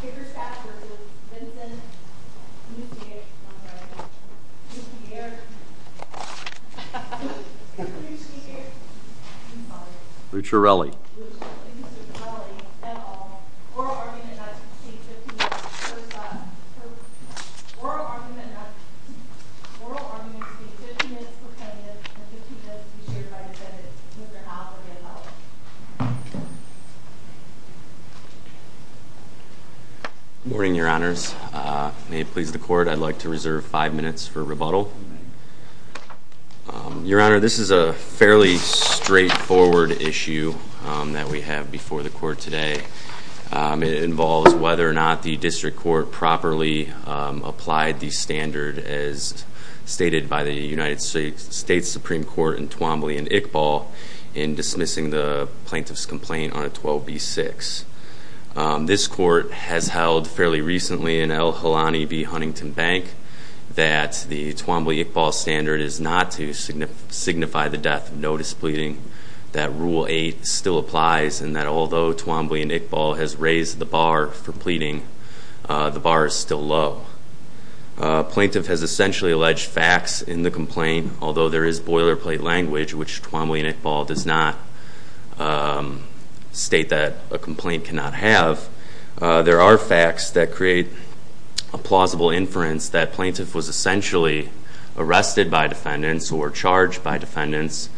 Bickerstaff v. Vincent Lucarelli Mr. Lucarelli Mr. Lucarelli, et al. Oral argument not to take 15 minutes for defendant and 15 minutes to be shared by defendant. Mr. Howell, et al. Good morning, your honors. May it please the court, I'd like to reserve 5 minutes for rebuttal. Your honor, this is a fairly straightforward issue that we have before the court today. It involves whether or not the district court properly applied the standard as stated by the United States Supreme Court in Twombly and Iqbal in dismissing the plaintiff's complaint on a 12B6. This court has held fairly recently in L. Helani v. Huntington Bank that the Twombly-Iqbal standard is not to signify the death of notice pleading. That Rule 8 still applies and that although Twombly and Iqbal has raised the bar for pleading, the bar is still low. Plaintiff has essentially alleged facts in the complaint, although there is boilerplate language which Twombly and Iqbal does not state that a complaint cannot have. There are facts that create a plausible inference that plaintiff was essentially arrested by defendants or charged by defendants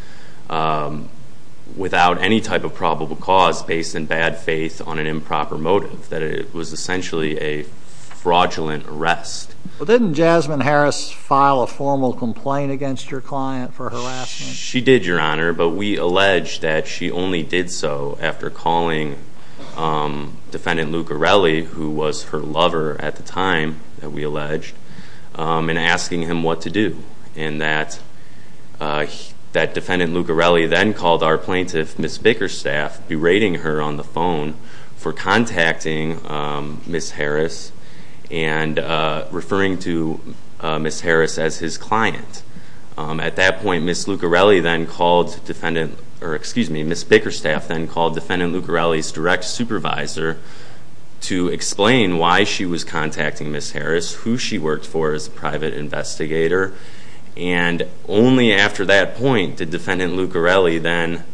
without any type of probable cause based in bad faith on an improper motive. That it was essentially a fraudulent arrest. Didn't Jasmine Harris file a formal complaint against your client for harassment? She did, your honor, but we allege that she only did so after calling defendant Lucarelli, who was her lover at the time that we alleged, and asking him what to do. And that defendant Lucarelli then called our plaintiff, Ms. Bickerstaff, berating her on the phone for contacting Ms. Harris and referring to Ms. Harris as his client. At that point, Ms. Bickerstaff then called defendant Lucarelli's direct supervisor to explain why she was contacting Ms. Harris, who she worked for as a private investigator. And only after that point did defendant Lucarelli then,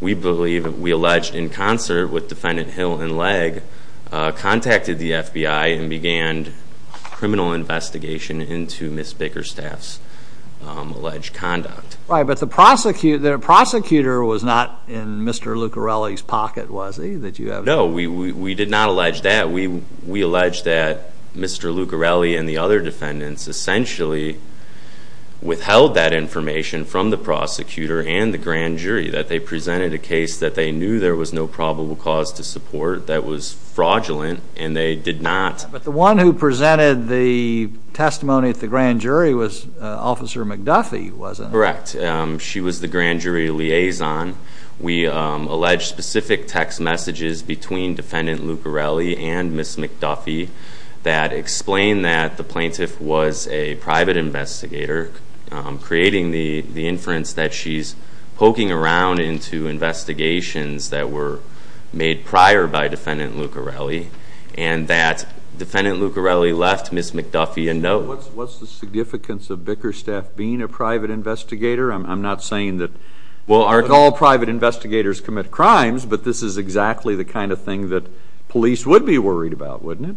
we believe we alleged in concert with defendant Hill and Legg, contacted the FBI and began criminal investigation into Ms. Bickerstaff's alleged conduct. Right, but the prosecutor was not in Mr. Lucarelli's pocket, was he? No, we did not allege that. We allege that Mr. Lucarelli and the other defendants essentially withheld that information from the prosecutor and the grand jury, that they presented a case that they knew there was no probable cause to support that was fraudulent, and they did not. But the one who presented the testimony at the grand jury was Officer McDuffie, wasn't it? Correct. She was the grand jury liaison. We allege specific text messages between defendant Lucarelli and Ms. McDuffie that explain that the plaintiff was a private investigator, creating the inference that she's poking around into investigations that were made prior by defendant Lucarelli, and that defendant Lucarelli left Ms. McDuffie a note. What's the significance of Bickerstaff being a private investigator? I'm not saying that all private investigators commit crimes, but this is exactly the kind of thing that police would be worried about, wouldn't it?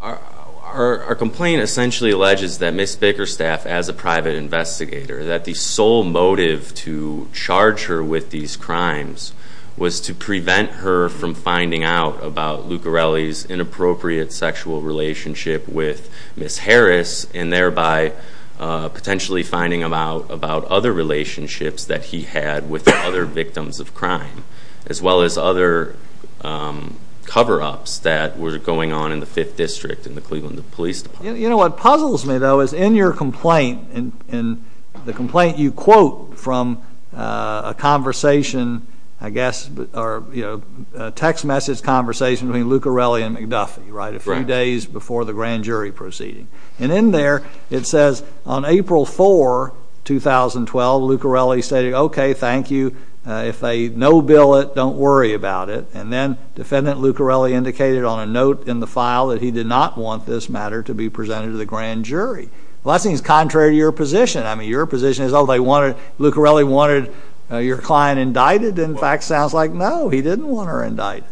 Our complaint essentially alleges that Ms. Bickerstaff, as a private investigator, that the sole motive to charge her with these crimes was to prevent her from finding out about Lucarelli's inappropriate sexual relationship with Ms. Harris, and thereby potentially finding out about other relationships that he had with other victims of crime, as well as other cover-ups that were going on in the Fifth District in the Cleveland Police Department. You know what puzzles me, though, is in your complaint, in the complaint you quote from a conversation, I guess, or a text message conversation between Lucarelli and McDuffie, right, a few days before the grand jury proceeding. And in there it says, on April 4, 2012, Lucarelli stated, okay, thank you. If they no-bill it, don't worry about it. And then defendant Lucarelli indicated on a note in the file that he did not want this matter to be presented to the grand jury. Well, that seems contrary to your position. I mean, your position is, oh, Lucarelli wanted your client indicted? In fact, it sounds like, no, he didn't want her indicted.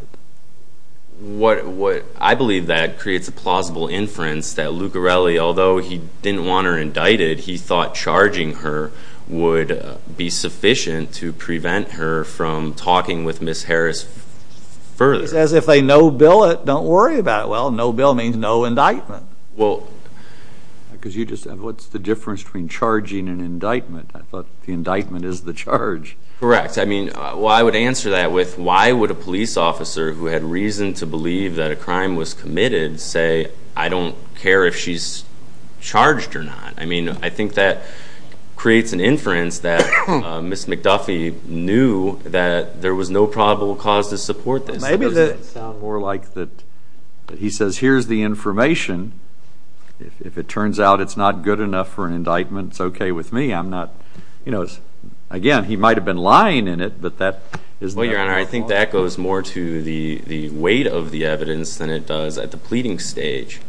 I believe that creates a plausible inference that Lucarelli, although he didn't want her indicted, he thought charging her would be sufficient to prevent her from talking with Ms. Harris further. As if they no-bill it, don't worry about it. Well, no-bill means no indictment. Well, because you just said, what's the difference between charging and indictment? I thought the indictment is the charge. Correct. I mean, well, I would answer that with, why would a police officer who had reason to believe that a crime was committed say, I don't care if she's charged or not? I mean, I think that creates an inference that Ms. McDuffie knew that there was no probable cause to support this. It doesn't sound more like that he says, here's the information. If it turns out it's not good enough for an indictment, it's okay with me. Again, he might have been lying in it, but that is not plausible. Well, Your Honor, I think that goes more to the weight of the evidence than it does at the pleading stage.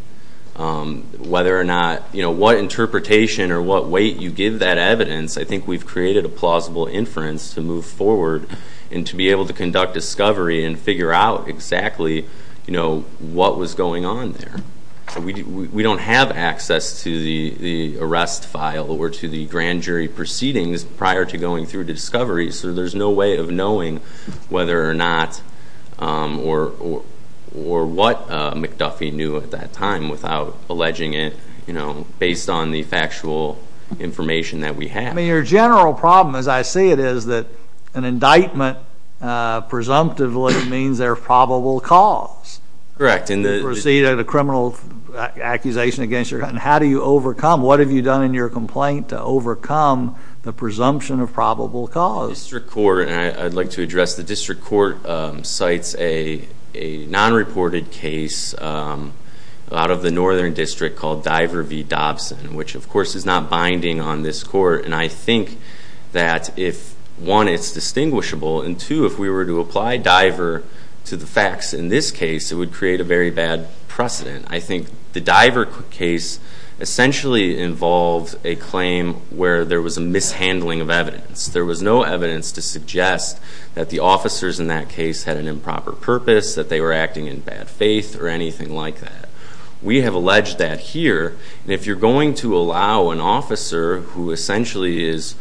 Whether or not, what interpretation or what weight you give that evidence, I think we've created a plausible inference to move forward and to be able to conduct discovery and figure out exactly what was going on there. We don't have access to the arrest file or to the grand jury proceedings prior to going through discovery, so there's no way of knowing whether or not or what McDuffie knew at that time without alleging it, based on the factual information that we have. Your general problem, as I see it, is that an indictment presumptively means there's probable cause. Correct. You proceed at a criminal accusation against your client. How do you overcome? What have you done in your complaint to overcome the presumption of probable cause? The district court, and I'd like to address the district court, cites a non-reported case out of the northern district called Diver v. Dobson, which, of course, is not binding on this court. And I think that, one, it's distinguishable, and two, if we were to apply Diver to the facts in this case, it would create a very bad precedent. I think the Diver case essentially involved a claim where there was a mishandling of evidence. There was no evidence to suggest that the officers in that case had an improper purpose, that they were acting in bad faith, or anything like that. We have alleged that here. And if you're going to allow an officer who essentially is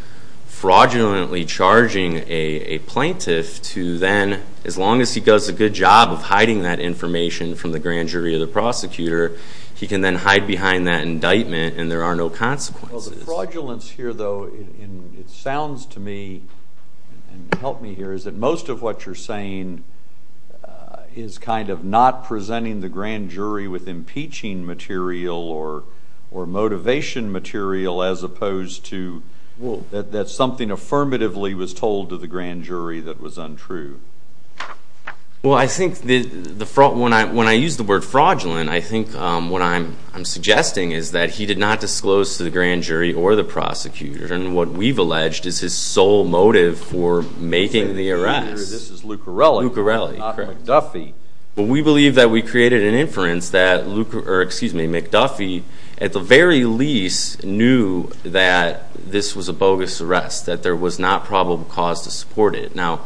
fraudulently charging a plaintiff to then, as long as he does a good job of hiding that information from the grand jury or the prosecutor, he can then hide behind that indictment and there are no consequences. The fraudulence here, though, it sounds to me, and help me here, is that most of what you're saying is kind of not presenting the grand jury with impeaching material or motivation material as opposed to that something affirmatively was told to the grand jury that was untrue. Well, I think when I use the word fraudulent, I think what I'm suggesting is that he did not disclose to the grand jury or the prosecutor. And what we've alleged is his sole motive for making the arrest. This is Luccarelli, not McDuffie. Well, we believe that we created an inference that McDuffie, at the very least, knew that this was a bogus arrest, that there was not probable cause to support it. Now,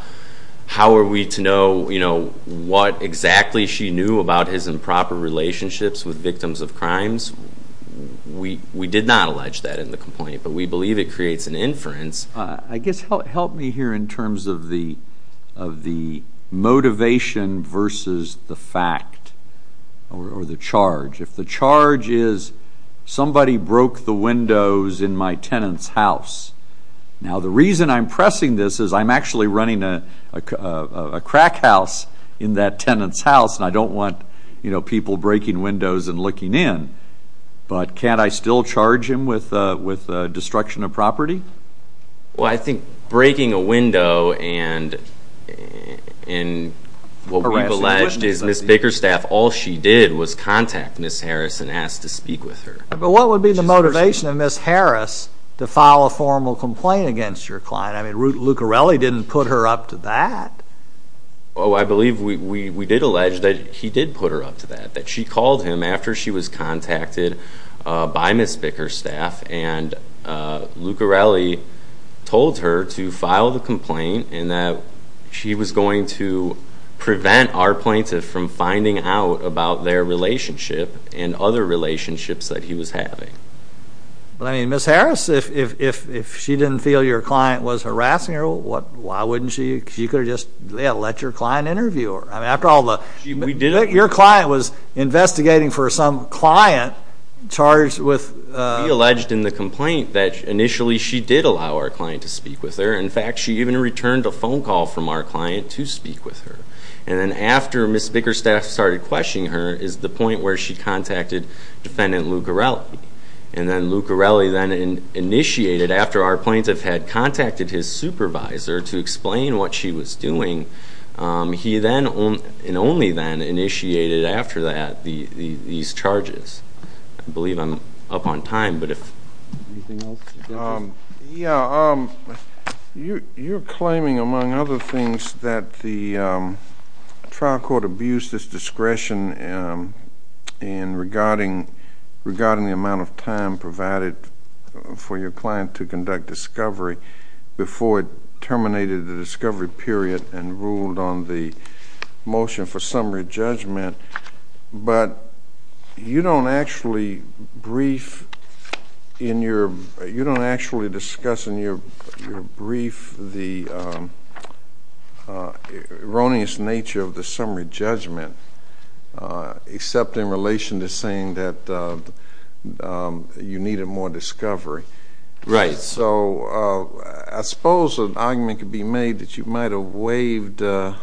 how are we to know what exactly she knew about his improper relationships with victims of crimes? We did not allege that in the complaint, but we believe it creates an inference. I guess help me here in terms of the motivation versus the fact or the charge. If the charge is somebody broke the windows in my tenant's house, now the reason I'm pressing this is I'm actually running a crack house in that tenant's house and I don't want people breaking windows and looking in. But can't I still charge him with destruction of property? Well, I think breaking a window and what we've alleged is Ms. Bakerstaff, all she did was contact Ms. Harris and ask to speak with her. But what would be the motivation of Ms. Harris to file a formal complaint against your client? I mean, Luccarelli didn't put her up to that. Oh, I believe we did allege that he did put her up to that, that she called him after she was contacted by Ms. Bakerstaff and Luccarelli told her to file the complaint and that she was going to prevent our plaintiff from finding out about their relationship and other relationships that he was having. But, I mean, Ms. Harris, if she didn't feel your client was harassing her, why wouldn't she? She could have just let your client interview her. Your client was investigating for some client charged with... We alleged in the complaint that initially she did allow our client to speak with her. In fact, she even returned a phone call from our client to speak with her. And then after Ms. Bakerstaff started questioning her is the point where she contacted Defendant Luccarelli. And then Luccarelli then initiated, after our plaintiff had contacted his supervisor to explain what she was doing, he then and only then initiated after that these charges. I believe I'm up on time, but if anything else... Yeah, you're claiming, among other things, that the trial court abused its discretion in regarding the amount of time provided for your client to conduct discovery before it terminated the discovery period and ruled on the motion for summary judgment. But you don't actually discuss in your brief the erroneous nature of the summary judgment, except in relation to saying that you needed more discovery. Right. So I suppose an argument could be made that you might have waived the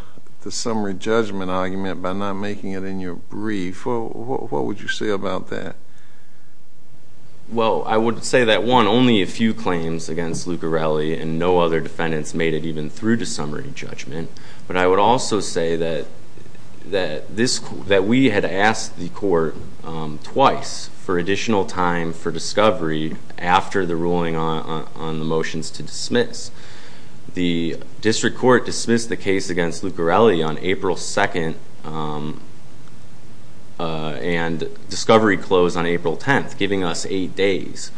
summary judgment argument by not making it in your brief. What would you say about that? Well, I would say that, one, only a few claims against Luccarelli and no other defendants made it even through to summary judgment. But I would also say that we had asked the court twice for additional time for discovery after the ruling on the motions to dismiss. The district court dismissed the case against Luccarelli on April 2nd and discovery closed on April 10th, giving us eight days.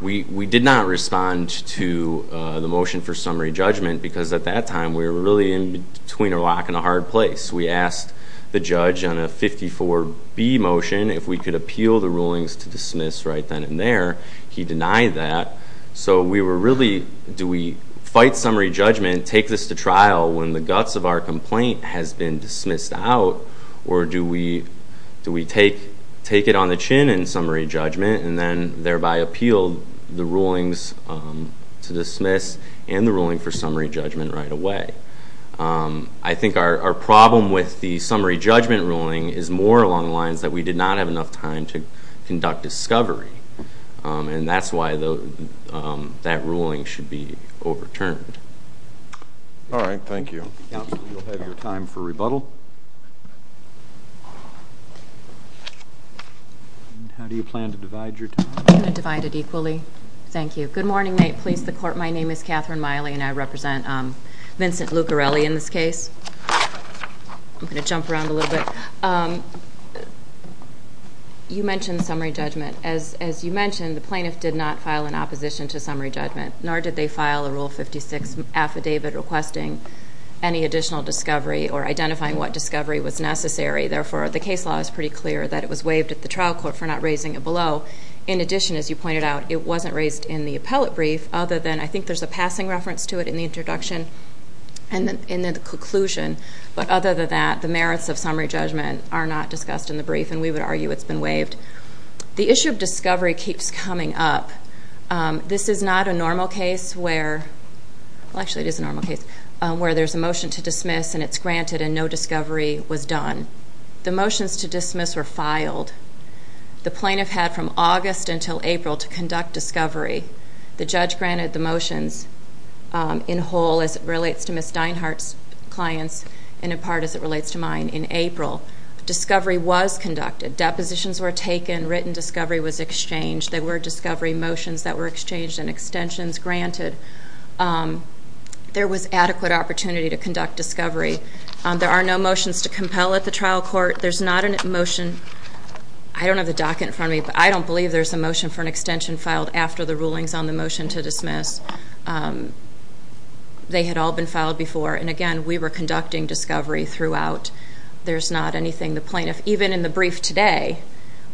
We did not respond to the motion for summary judgment because at that time we were really in between a rock and a hard place. We asked the judge on a 54B motion if we could appeal the rulings to dismiss right then and there. He denied that. So we were really, do we fight summary judgment, take this to trial when the guts of our complaint has been dismissed out, or do we take it on the chin in summary judgment and then thereby appeal the rulings to dismiss and the ruling for summary judgment right away? I think our problem with the summary judgment ruling is more along the lines that we did not have enough time to conduct discovery, and that's why that ruling should be overturned. All right. Thank you. Counsel, you'll have your time for rebuttal. How do you plan to divide your time? I'm going to divide it equally. Thank you. Good morning, please, the court. My name is Catherine Miley, and I represent Vincent Luccarelli in this case. I'm going to jump around a little bit. You mentioned summary judgment. As you mentioned, the plaintiff did not file an opposition to summary judgment, nor did they file a Rule 56 affidavit requesting any additional discovery or identifying what discovery was necessary. Therefore, the case law is pretty clear that it was waived at the trial court for not raising it below. In addition, as you pointed out, it wasn't raised in the appellate brief, other than I think there's a passing reference to it in the introduction and in the conclusion. But other than that, the merits of summary judgment are not discussed in the brief, and we would argue it's been waived. The issue of discovery keeps coming up. This is not a normal case where there's a motion to dismiss and it's granted and no discovery was done. The motions to dismiss were filed. The plaintiff had from August until April to conduct discovery. The judge granted the motions in whole as it relates to Ms. Dinehart's clients and in part as it relates to mine in April. Discovery was conducted. Depositions were taken. Written discovery was exchanged. There were discovery motions that were exchanged and extensions granted. There was adequate opportunity to conduct discovery. There are no motions to compel at the trial court. There's not a motion. I don't have the docket in front of me, but I don't believe there's a motion for an extension filed after the rulings on the motion to dismiss. They had all been filed before, and, again, we were conducting discovery throughout. There's not anything the plaintiff, even in the brief today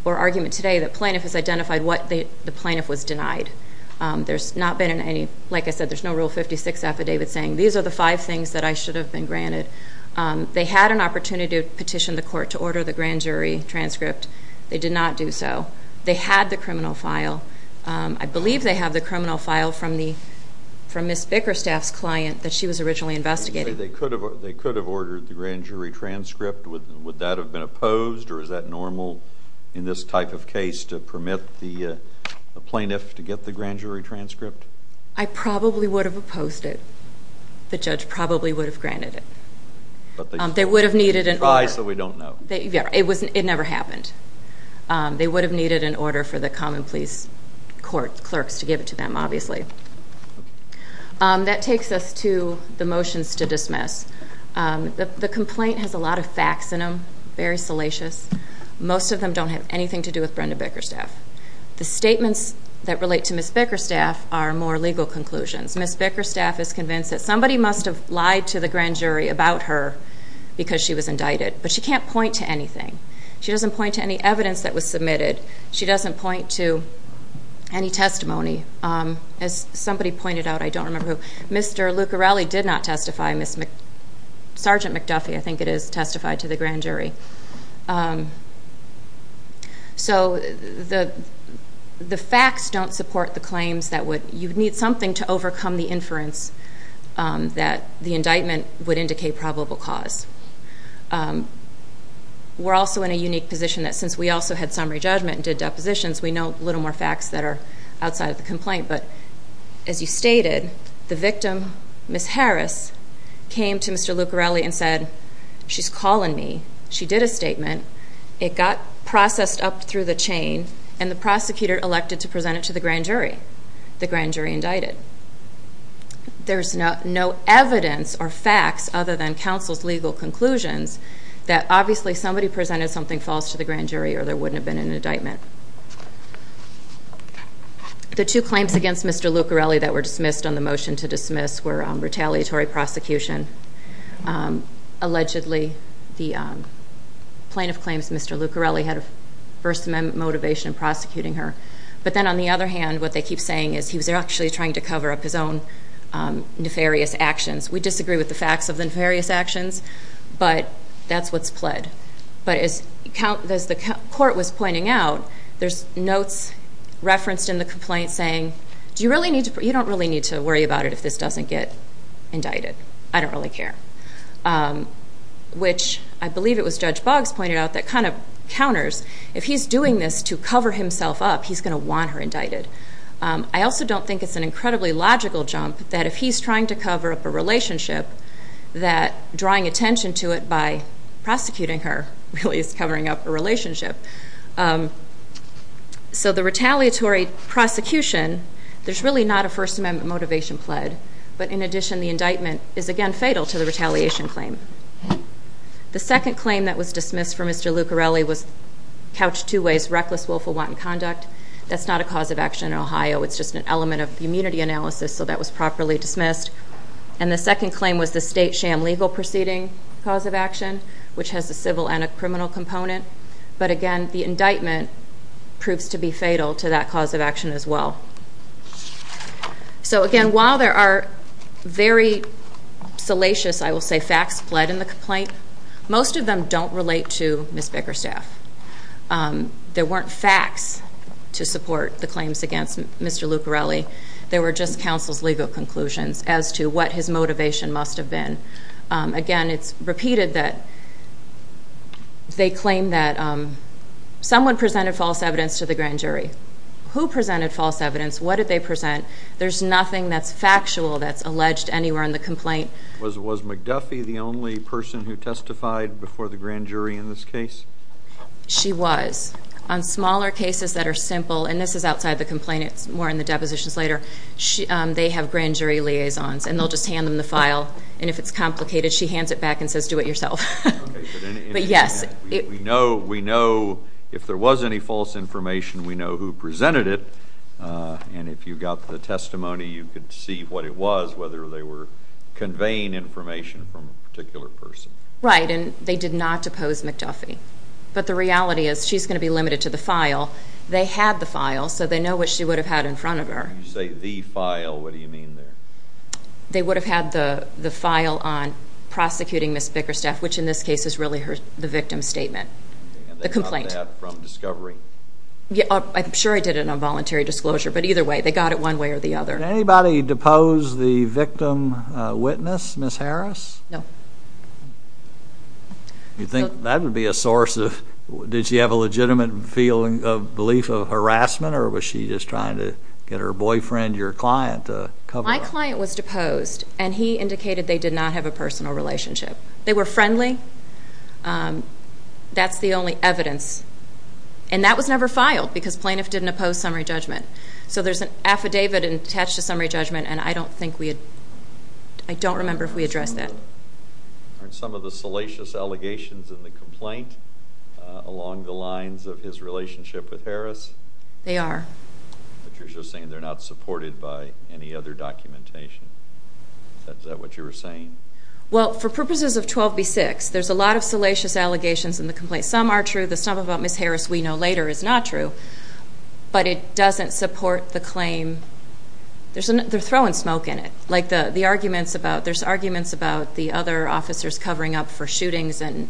or argument today, the plaintiff has identified what the plaintiff was denied. There's not been any, like I said, there's no Rule 56 affidavit saying, these are the five things that I should have been granted. They had an opportunity to petition the court to order the grand jury transcript. They did not do so. They had the criminal file. I believe they have the criminal file from Ms. Bickerstaff's client that she was originally investigating. They could have ordered the grand jury transcript. Would that have been opposed, or is that normal in this type of case, to permit the plaintiff to get the grand jury transcript? I probably would have opposed it. The judge probably would have granted it. They would have needed an order. But they try so we don't know. It never happened. They would have needed an order for the common police clerks to give it to them, obviously. That takes us to the motions to dismiss. The complaint has a lot of facts in them, very salacious. Most of them don't have anything to do with Brenda Bickerstaff. The statements that relate to Ms. Bickerstaff are more legal conclusions. Ms. Bickerstaff is convinced that somebody must have lied to the grand jury about her because she was indicted. But she can't point to anything. She doesn't point to any evidence that was submitted. She doesn't point to any testimony. As somebody pointed out, I don't remember who. Mr. Luccarelli did not testify. Sergeant McDuffie, I think it is, testified to the grand jury. So the facts don't support the claims. You need something to overcome the inference that the indictment would indicate probable cause. We're also in a unique position that since we also had summary judgment and did depositions, we know little more facts that are outside of the complaint. But as you stated, the victim, Ms. Harris, came to Mr. Luccarelli and said, she's calling me. She did a statement. It got processed up through the chain, and the prosecutor elected to present it to the grand jury. The grand jury indicted. There's no evidence or facts, other than counsel's legal conclusions, that obviously somebody presented something false to the grand jury or there wouldn't have been an indictment. The two claims against Mr. Luccarelli that were dismissed on the motion to dismiss were retaliatory prosecution. Allegedly, the plaintiff claims Mr. Luccarelli had a First Amendment motivation in prosecuting her. But then on the other hand, what they keep saying is he was actually trying to cover up his own nefarious actions. We disagree with the facts of the nefarious actions, but that's what's pled. But as the court was pointing out, there's notes referenced in the complaint saying, you don't really need to worry about it if this doesn't get indicted. I don't really care, which I believe it was Judge Boggs pointed out that kind of counters. If he's doing this to cover himself up, he's going to want her indicted. I also don't think it's an incredibly logical jump that if he's trying to cover up a relationship, that drawing attention to it by prosecuting her really is covering up a relationship. So the retaliatory prosecution, there's really not a First Amendment motivation pled. But in addition, the indictment is again fatal to the retaliation claim. The second claim that was dismissed for Mr. Luccarelli was couched two ways, reckless willful wanton conduct. That's not a cause of action in Ohio, it's just an element of community analysis, so that was properly dismissed. And the second claim was the state sham legal proceeding cause of action, which has a civil and a criminal component. But again, the indictment proves to be fatal to that cause of action as well. So again, while there are very salacious, I will say, facts pled in the complaint, most of them don't relate to Ms. Bickerstaff. There weren't facts to support the claims against Mr. Luccarelli. They were just counsel's legal conclusions as to what his motivation must have been. Again, it's repeated that they claim that someone presented false evidence to the grand jury. Who presented false evidence? What did they present? There's nothing that's factual that's alleged anywhere in the complaint. Was McDuffie the only person who testified before the grand jury in this case? She was. On smaller cases that are simple, and this is outside the complaint. It's more in the depositions later. They have grand jury liaisons, and they'll just hand them the file. And if it's complicated, she hands it back and says, do it yourself. But yes. We know if there was any false information, we know who presented it. And if you got the testimony, you could see what it was, whether they were conveying information from a particular person. Right, and they did not depose McDuffie. But the reality is she's going to be limited to the file. They had the file, so they know what she would have had in front of her. When you say the file, what do you mean there? They would have had the file on prosecuting Ms. Bickerstaff, which in this case is really the victim's statement, the complaint. And they got that from discovery? I'm sure I did it on voluntary disclosure, but either way, they got it one way or the other. Did anybody depose the victim witness, Ms. Harris? No. You think that would be a source of, did she have a legitimate belief of harassment or was she just trying to get her boyfriend, your client, to cover up? My client was deposed, and he indicated they did not have a personal relationship. They were friendly. That's the only evidence. And that was never filed because plaintiff didn't oppose summary judgment. So there's an affidavit attached to summary judgment, and I don't think we had, I don't remember if we addressed that. Are some of the salacious allegations in the complaint along the lines of his relationship with Harris? They are. But you're just saying they're not supported by any other documentation. Is that what you were saying? Well, for purposes of 12b-6, there's a lot of salacious allegations in the complaint. Some are true. The stuff about Ms. Harris we know later is not true. But it doesn't support the claim. They're throwing smoke in it. There's arguments about the other officers covering up for shootings and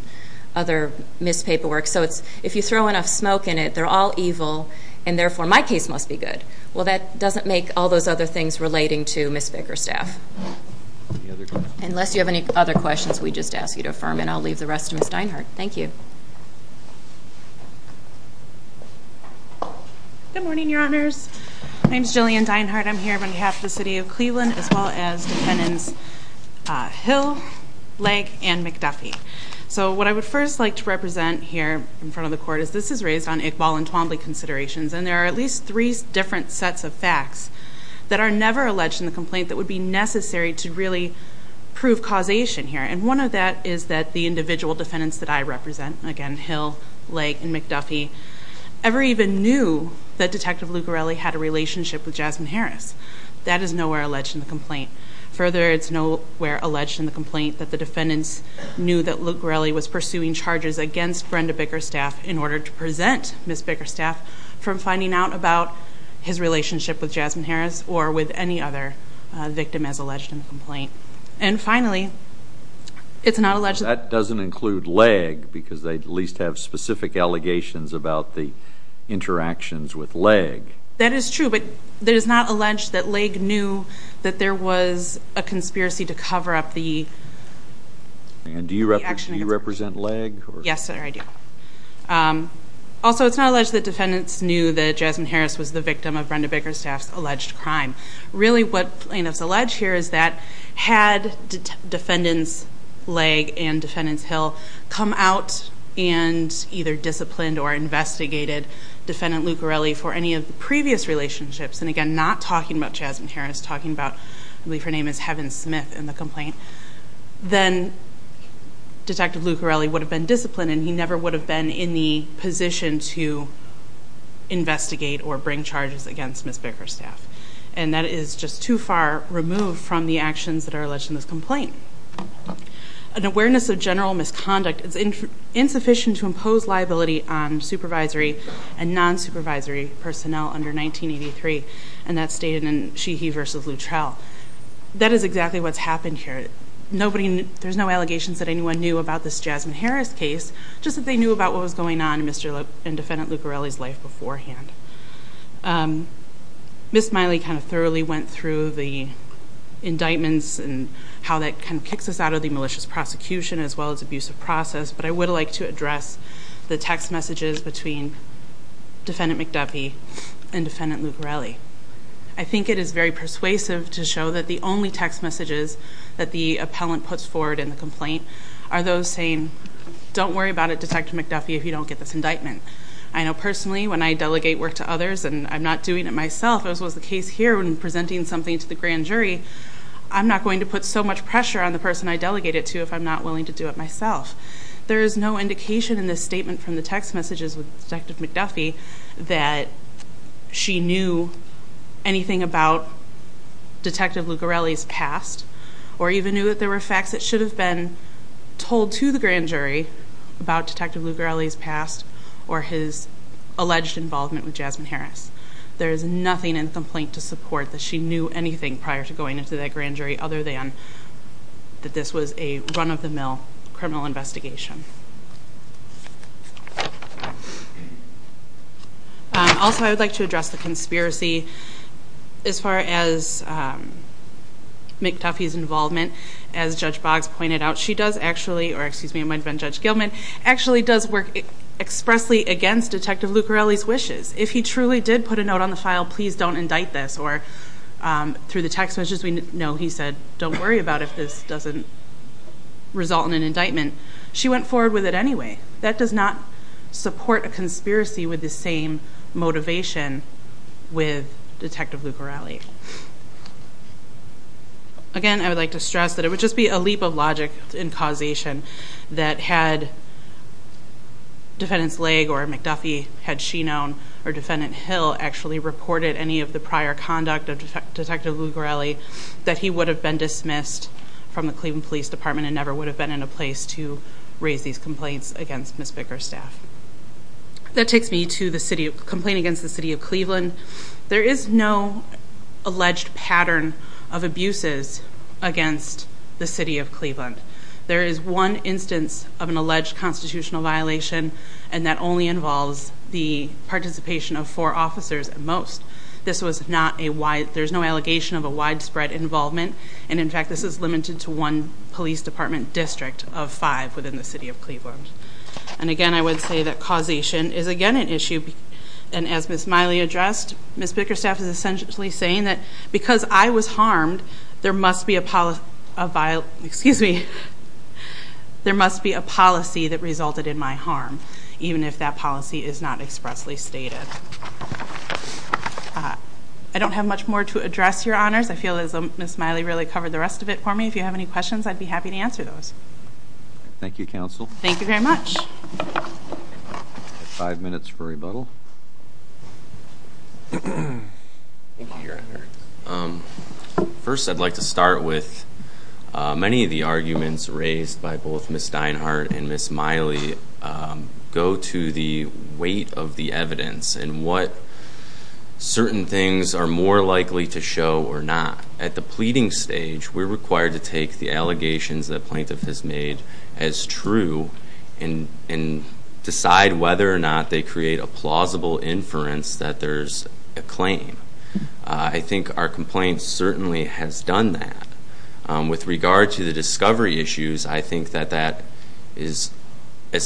other missed paperwork. So if you throw enough smoke in it, they're all evil, and therefore my case must be good. Well, that doesn't make all those other things relating to Ms. Baker's staff. Unless you have any other questions, we just ask you to affirm, and I'll leave the rest to Ms. Dinehart. Thank you. Good morning, Your Honors. My name is Jillian Dinehart. I'm here on behalf of the city of Cleveland as well as defendants Hill, Legg, and McDuffie. So what I would first like to represent here in front of the Court is this is raised on Iqbal and Twombly considerations, and there are at least three different sets of facts that are never alleged in the complaint that would be necessary to really prove causation here. And one of that is that the individual defendants that I represent, again, Hill, Legg, and McDuffie, ever even knew that Detective Lugarelli had a relationship with Jasmine Harris. That is nowhere alleged in the complaint. Further, it's nowhere alleged in the complaint that the defendants knew that Lugarelli was pursuing charges against Brenda Baker's staff in order to prevent Ms. Baker's staff from finding out about his relationship with Jasmine Harris or with any other victim as alleged in the complaint. And finally, it's not alleged that... interactions with Legg. That is true, but it is not alleged that Legg knew that there was a conspiracy to cover up the... And do you represent Legg? Yes, sir, I do. Also, it's not alleged that defendants knew that Jasmine Harris was the victim of Brenda Baker's staff's alleged crime. Really what is alleged here is that had defendants Legg and defendants Hill come out and either disciplined or investigated defendant Lugarelli for any of the previous relationships, and again, not talking about Jasmine Harris, talking about, I believe her name is Heaven Smith in the complaint, then Detective Lugarelli would have been disciplined, and he never would have been in the position to investigate or bring charges against Ms. Baker's staff. And that is just too far removed from the actions that are alleged in this complaint. An awareness of general misconduct is insufficient to impose liability on supervisory and non-supervisory personnel under 1983, and that's stated in Sheehy v. Luttrell. That is exactly what's happened here. There's no allegations that anyone knew about this Jasmine Harris case, just that they knew about what was going on in defendant Lugarelli's life beforehand. Ms. Miley kind of thoroughly went through the indictments and how that kind of kicks us out of the malicious prosecution as well as abusive process, but I would like to address the text messages between defendant McDuffie and defendant Lugarelli. I think it is very persuasive to show that the only text messages that the appellant puts forward in the complaint are those saying, don't worry about it, Detective McDuffie, if you don't get this indictment. I know personally when I delegate work to others and I'm not doing it myself, as was the case here when presenting something to the grand jury, I'm not going to put so much pressure on the person I delegate it to if I'm not willing to do it myself. There is no indication in this statement from the text messages with Detective McDuffie that she knew anything about Detective Lugarelli's past or even knew that there were facts that should have been told to the grand jury about Detective Lugarelli's past or his alleged involvement with Jasmine Harris. There is nothing in the complaint to support that she knew anything prior to going into that grand jury other than that this was a run-of-the-mill criminal investigation. Also, I would like to address the conspiracy. As far as McDuffie's involvement, as Judge Boggs pointed out, she does actually, or excuse me, it might have been Judge Gilman, actually does work expressly against Detective Lugarelli's wishes. If he truly did put a note on the file, please don't indict this, or through the text messages we know he said don't worry about it if this doesn't result in an indictment. She went forward with it anyway. That does not support a conspiracy with the same motivation with Detective Lugarelli. Again, I would like to stress that it would just be a leap of logic in causation that had Defendant Slagg or McDuffie, had she known, or Defendant Hill, actually reported any of the prior conduct of Detective Lugarelli, that he would have been dismissed from the Cleveland Police Department and never would have been in a place to raise these complaints against Ms. Bicker's staff. There is no alleged pattern of abuses against the city of Cleveland. There is one instance of an alleged constitutional violation, and that only involves the participation of four officers at most. There's no allegation of a widespread involvement, and in fact this is limited to one police department district of five within the city of Cleveland. Again, I would say that causation is again an issue, and as Ms. Miley addressed, Ms. Bicker's staff is essentially saying that because I was harmed, there must be a policy that resulted in my harm, even if that policy is not expressly stated. I don't have much more to address, Your Honors. I feel as though Ms. Miley really covered the rest of it for me. If you have any questions, I'd be happy to answer those. Thank you, Counsel. Thank you very much. Five minutes for rebuttal. First, I'd like to start with many of the arguments raised by both Ms. Steinhardt and Ms. Miley go to the weight of the evidence and what certain things are more likely to show or not. At the pleading stage, we're required to take the allegations that plaintiff has made as true and decide whether or not they create a plausible inference that there's a claim. I think our complaint certainly has done that. With regard to the discovery issues, I think that as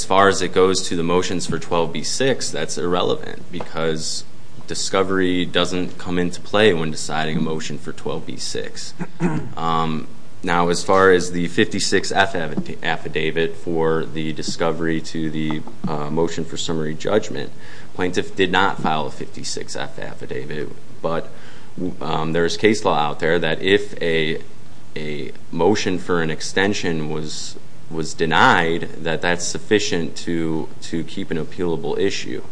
far as it goes to the motions for 12b-6, that's irrelevant because discovery doesn't come into play when deciding a motion for 12b-6. Now, as far as the 56-F affidavit for the discovery to the motion for summary judgment, plaintiff did not file a 56-F affidavit. But there is case law out there that if a motion for an extension was denied, that that's sufficient to keep an appealable issue.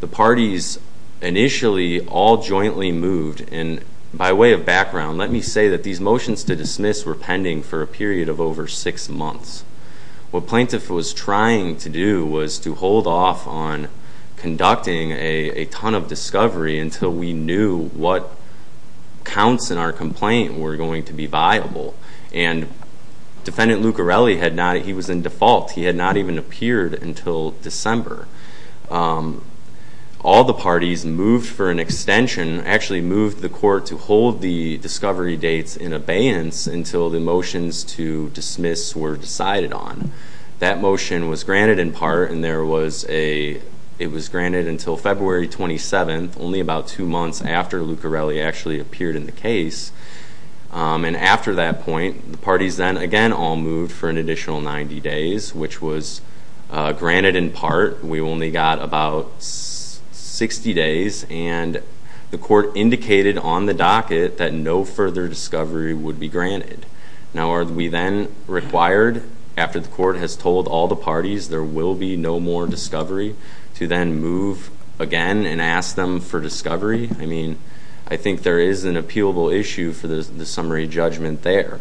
The parties initially all jointly moved. And by way of background, let me say that these motions to dismiss were pending for a period of over six months. What plaintiff was trying to do was to hold off on conducting a ton of discovery until we knew what counts in our complaint were going to be viable. And Defendant Luccarelli, he was in default. He had not even appeared until December. All the parties moved for an extension, actually moved the court to hold the discovery dates in abeyance until the motions to dismiss were decided on. That motion was granted in part, and it was granted until February 27th, only about two months after Luccarelli actually appeared in the case. And after that point, the parties then again all moved for an additional 90 days, which was granted in part. We only got about 60 days, and the court indicated on the docket that no further discovery would be granted. Now, are we then required, after the court has told all the parties there will be no more discovery, to then move again and ask them for discovery? I mean, I think there is an appealable issue for the summary judgment there.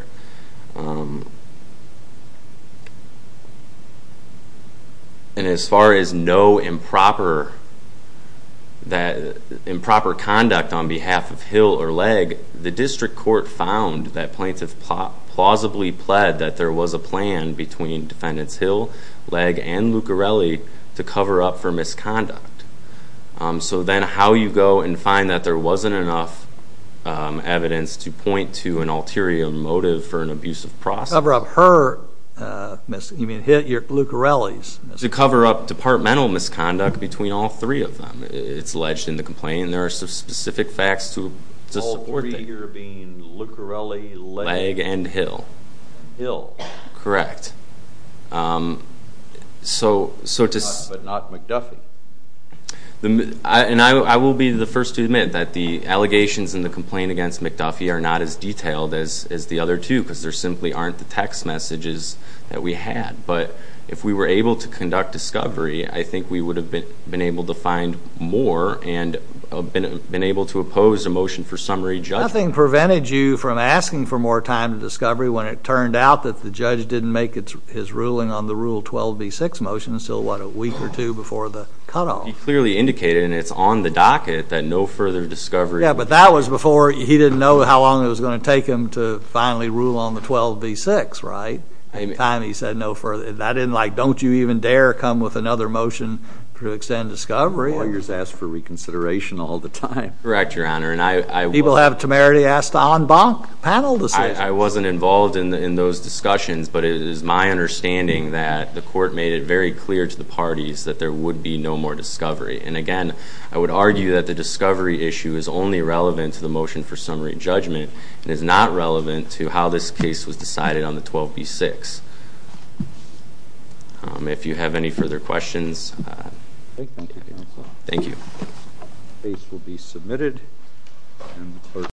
And as far as no improper conduct on behalf of Hill or Legg, the district court found that plaintiffs plausibly pled that there was a plan between Defendants Hill, Legg, and Luccarelli to cover up for misconduct. So then how you go and find that there wasn't enough evidence to point to an ulterior motive for an abusive process? To cover up Luccarelli's. To cover up departmental misconduct between all three of them, it's alleged in the complaint, and there are some specific facts to support that. All three here being Luccarelli, Legg, and Hill. Hill. Correct. But not McDuffie. And I will be the first to admit that the allegations in the complaint against McDuffie are not as detailed as the other two, because there simply aren't the text messages that we had. But if we were able to conduct discovery, I think we would have been able to find more and been able to oppose a motion for summary judgment. Nothing prevented you from asking for more time to discovery when it turned out that the judge didn't make his ruling on the Rule 12b-6 motion until, what, a week or two before the cutoff? He clearly indicated, and it's on the docket, that no further discovery. Yeah, but that was before he didn't know how long it was going to take him to finally rule on the 12b-6, right? By the time he said no further, that didn't like, don't you even dare come with another motion to extend discovery. Lawyers ask for reconsideration all the time. Correct, Your Honor. People have temerity asked to en banc panel decisions. I wasn't involved in those discussions, but it is my understanding that the court made it very clear to the parties that there would be no more discovery. And, again, I would argue that the discovery issue is only relevant to the motion for summary judgment and is not relevant to how this case was decided on the 12b-6. If you have any further questions, thank you. The case will be submitted.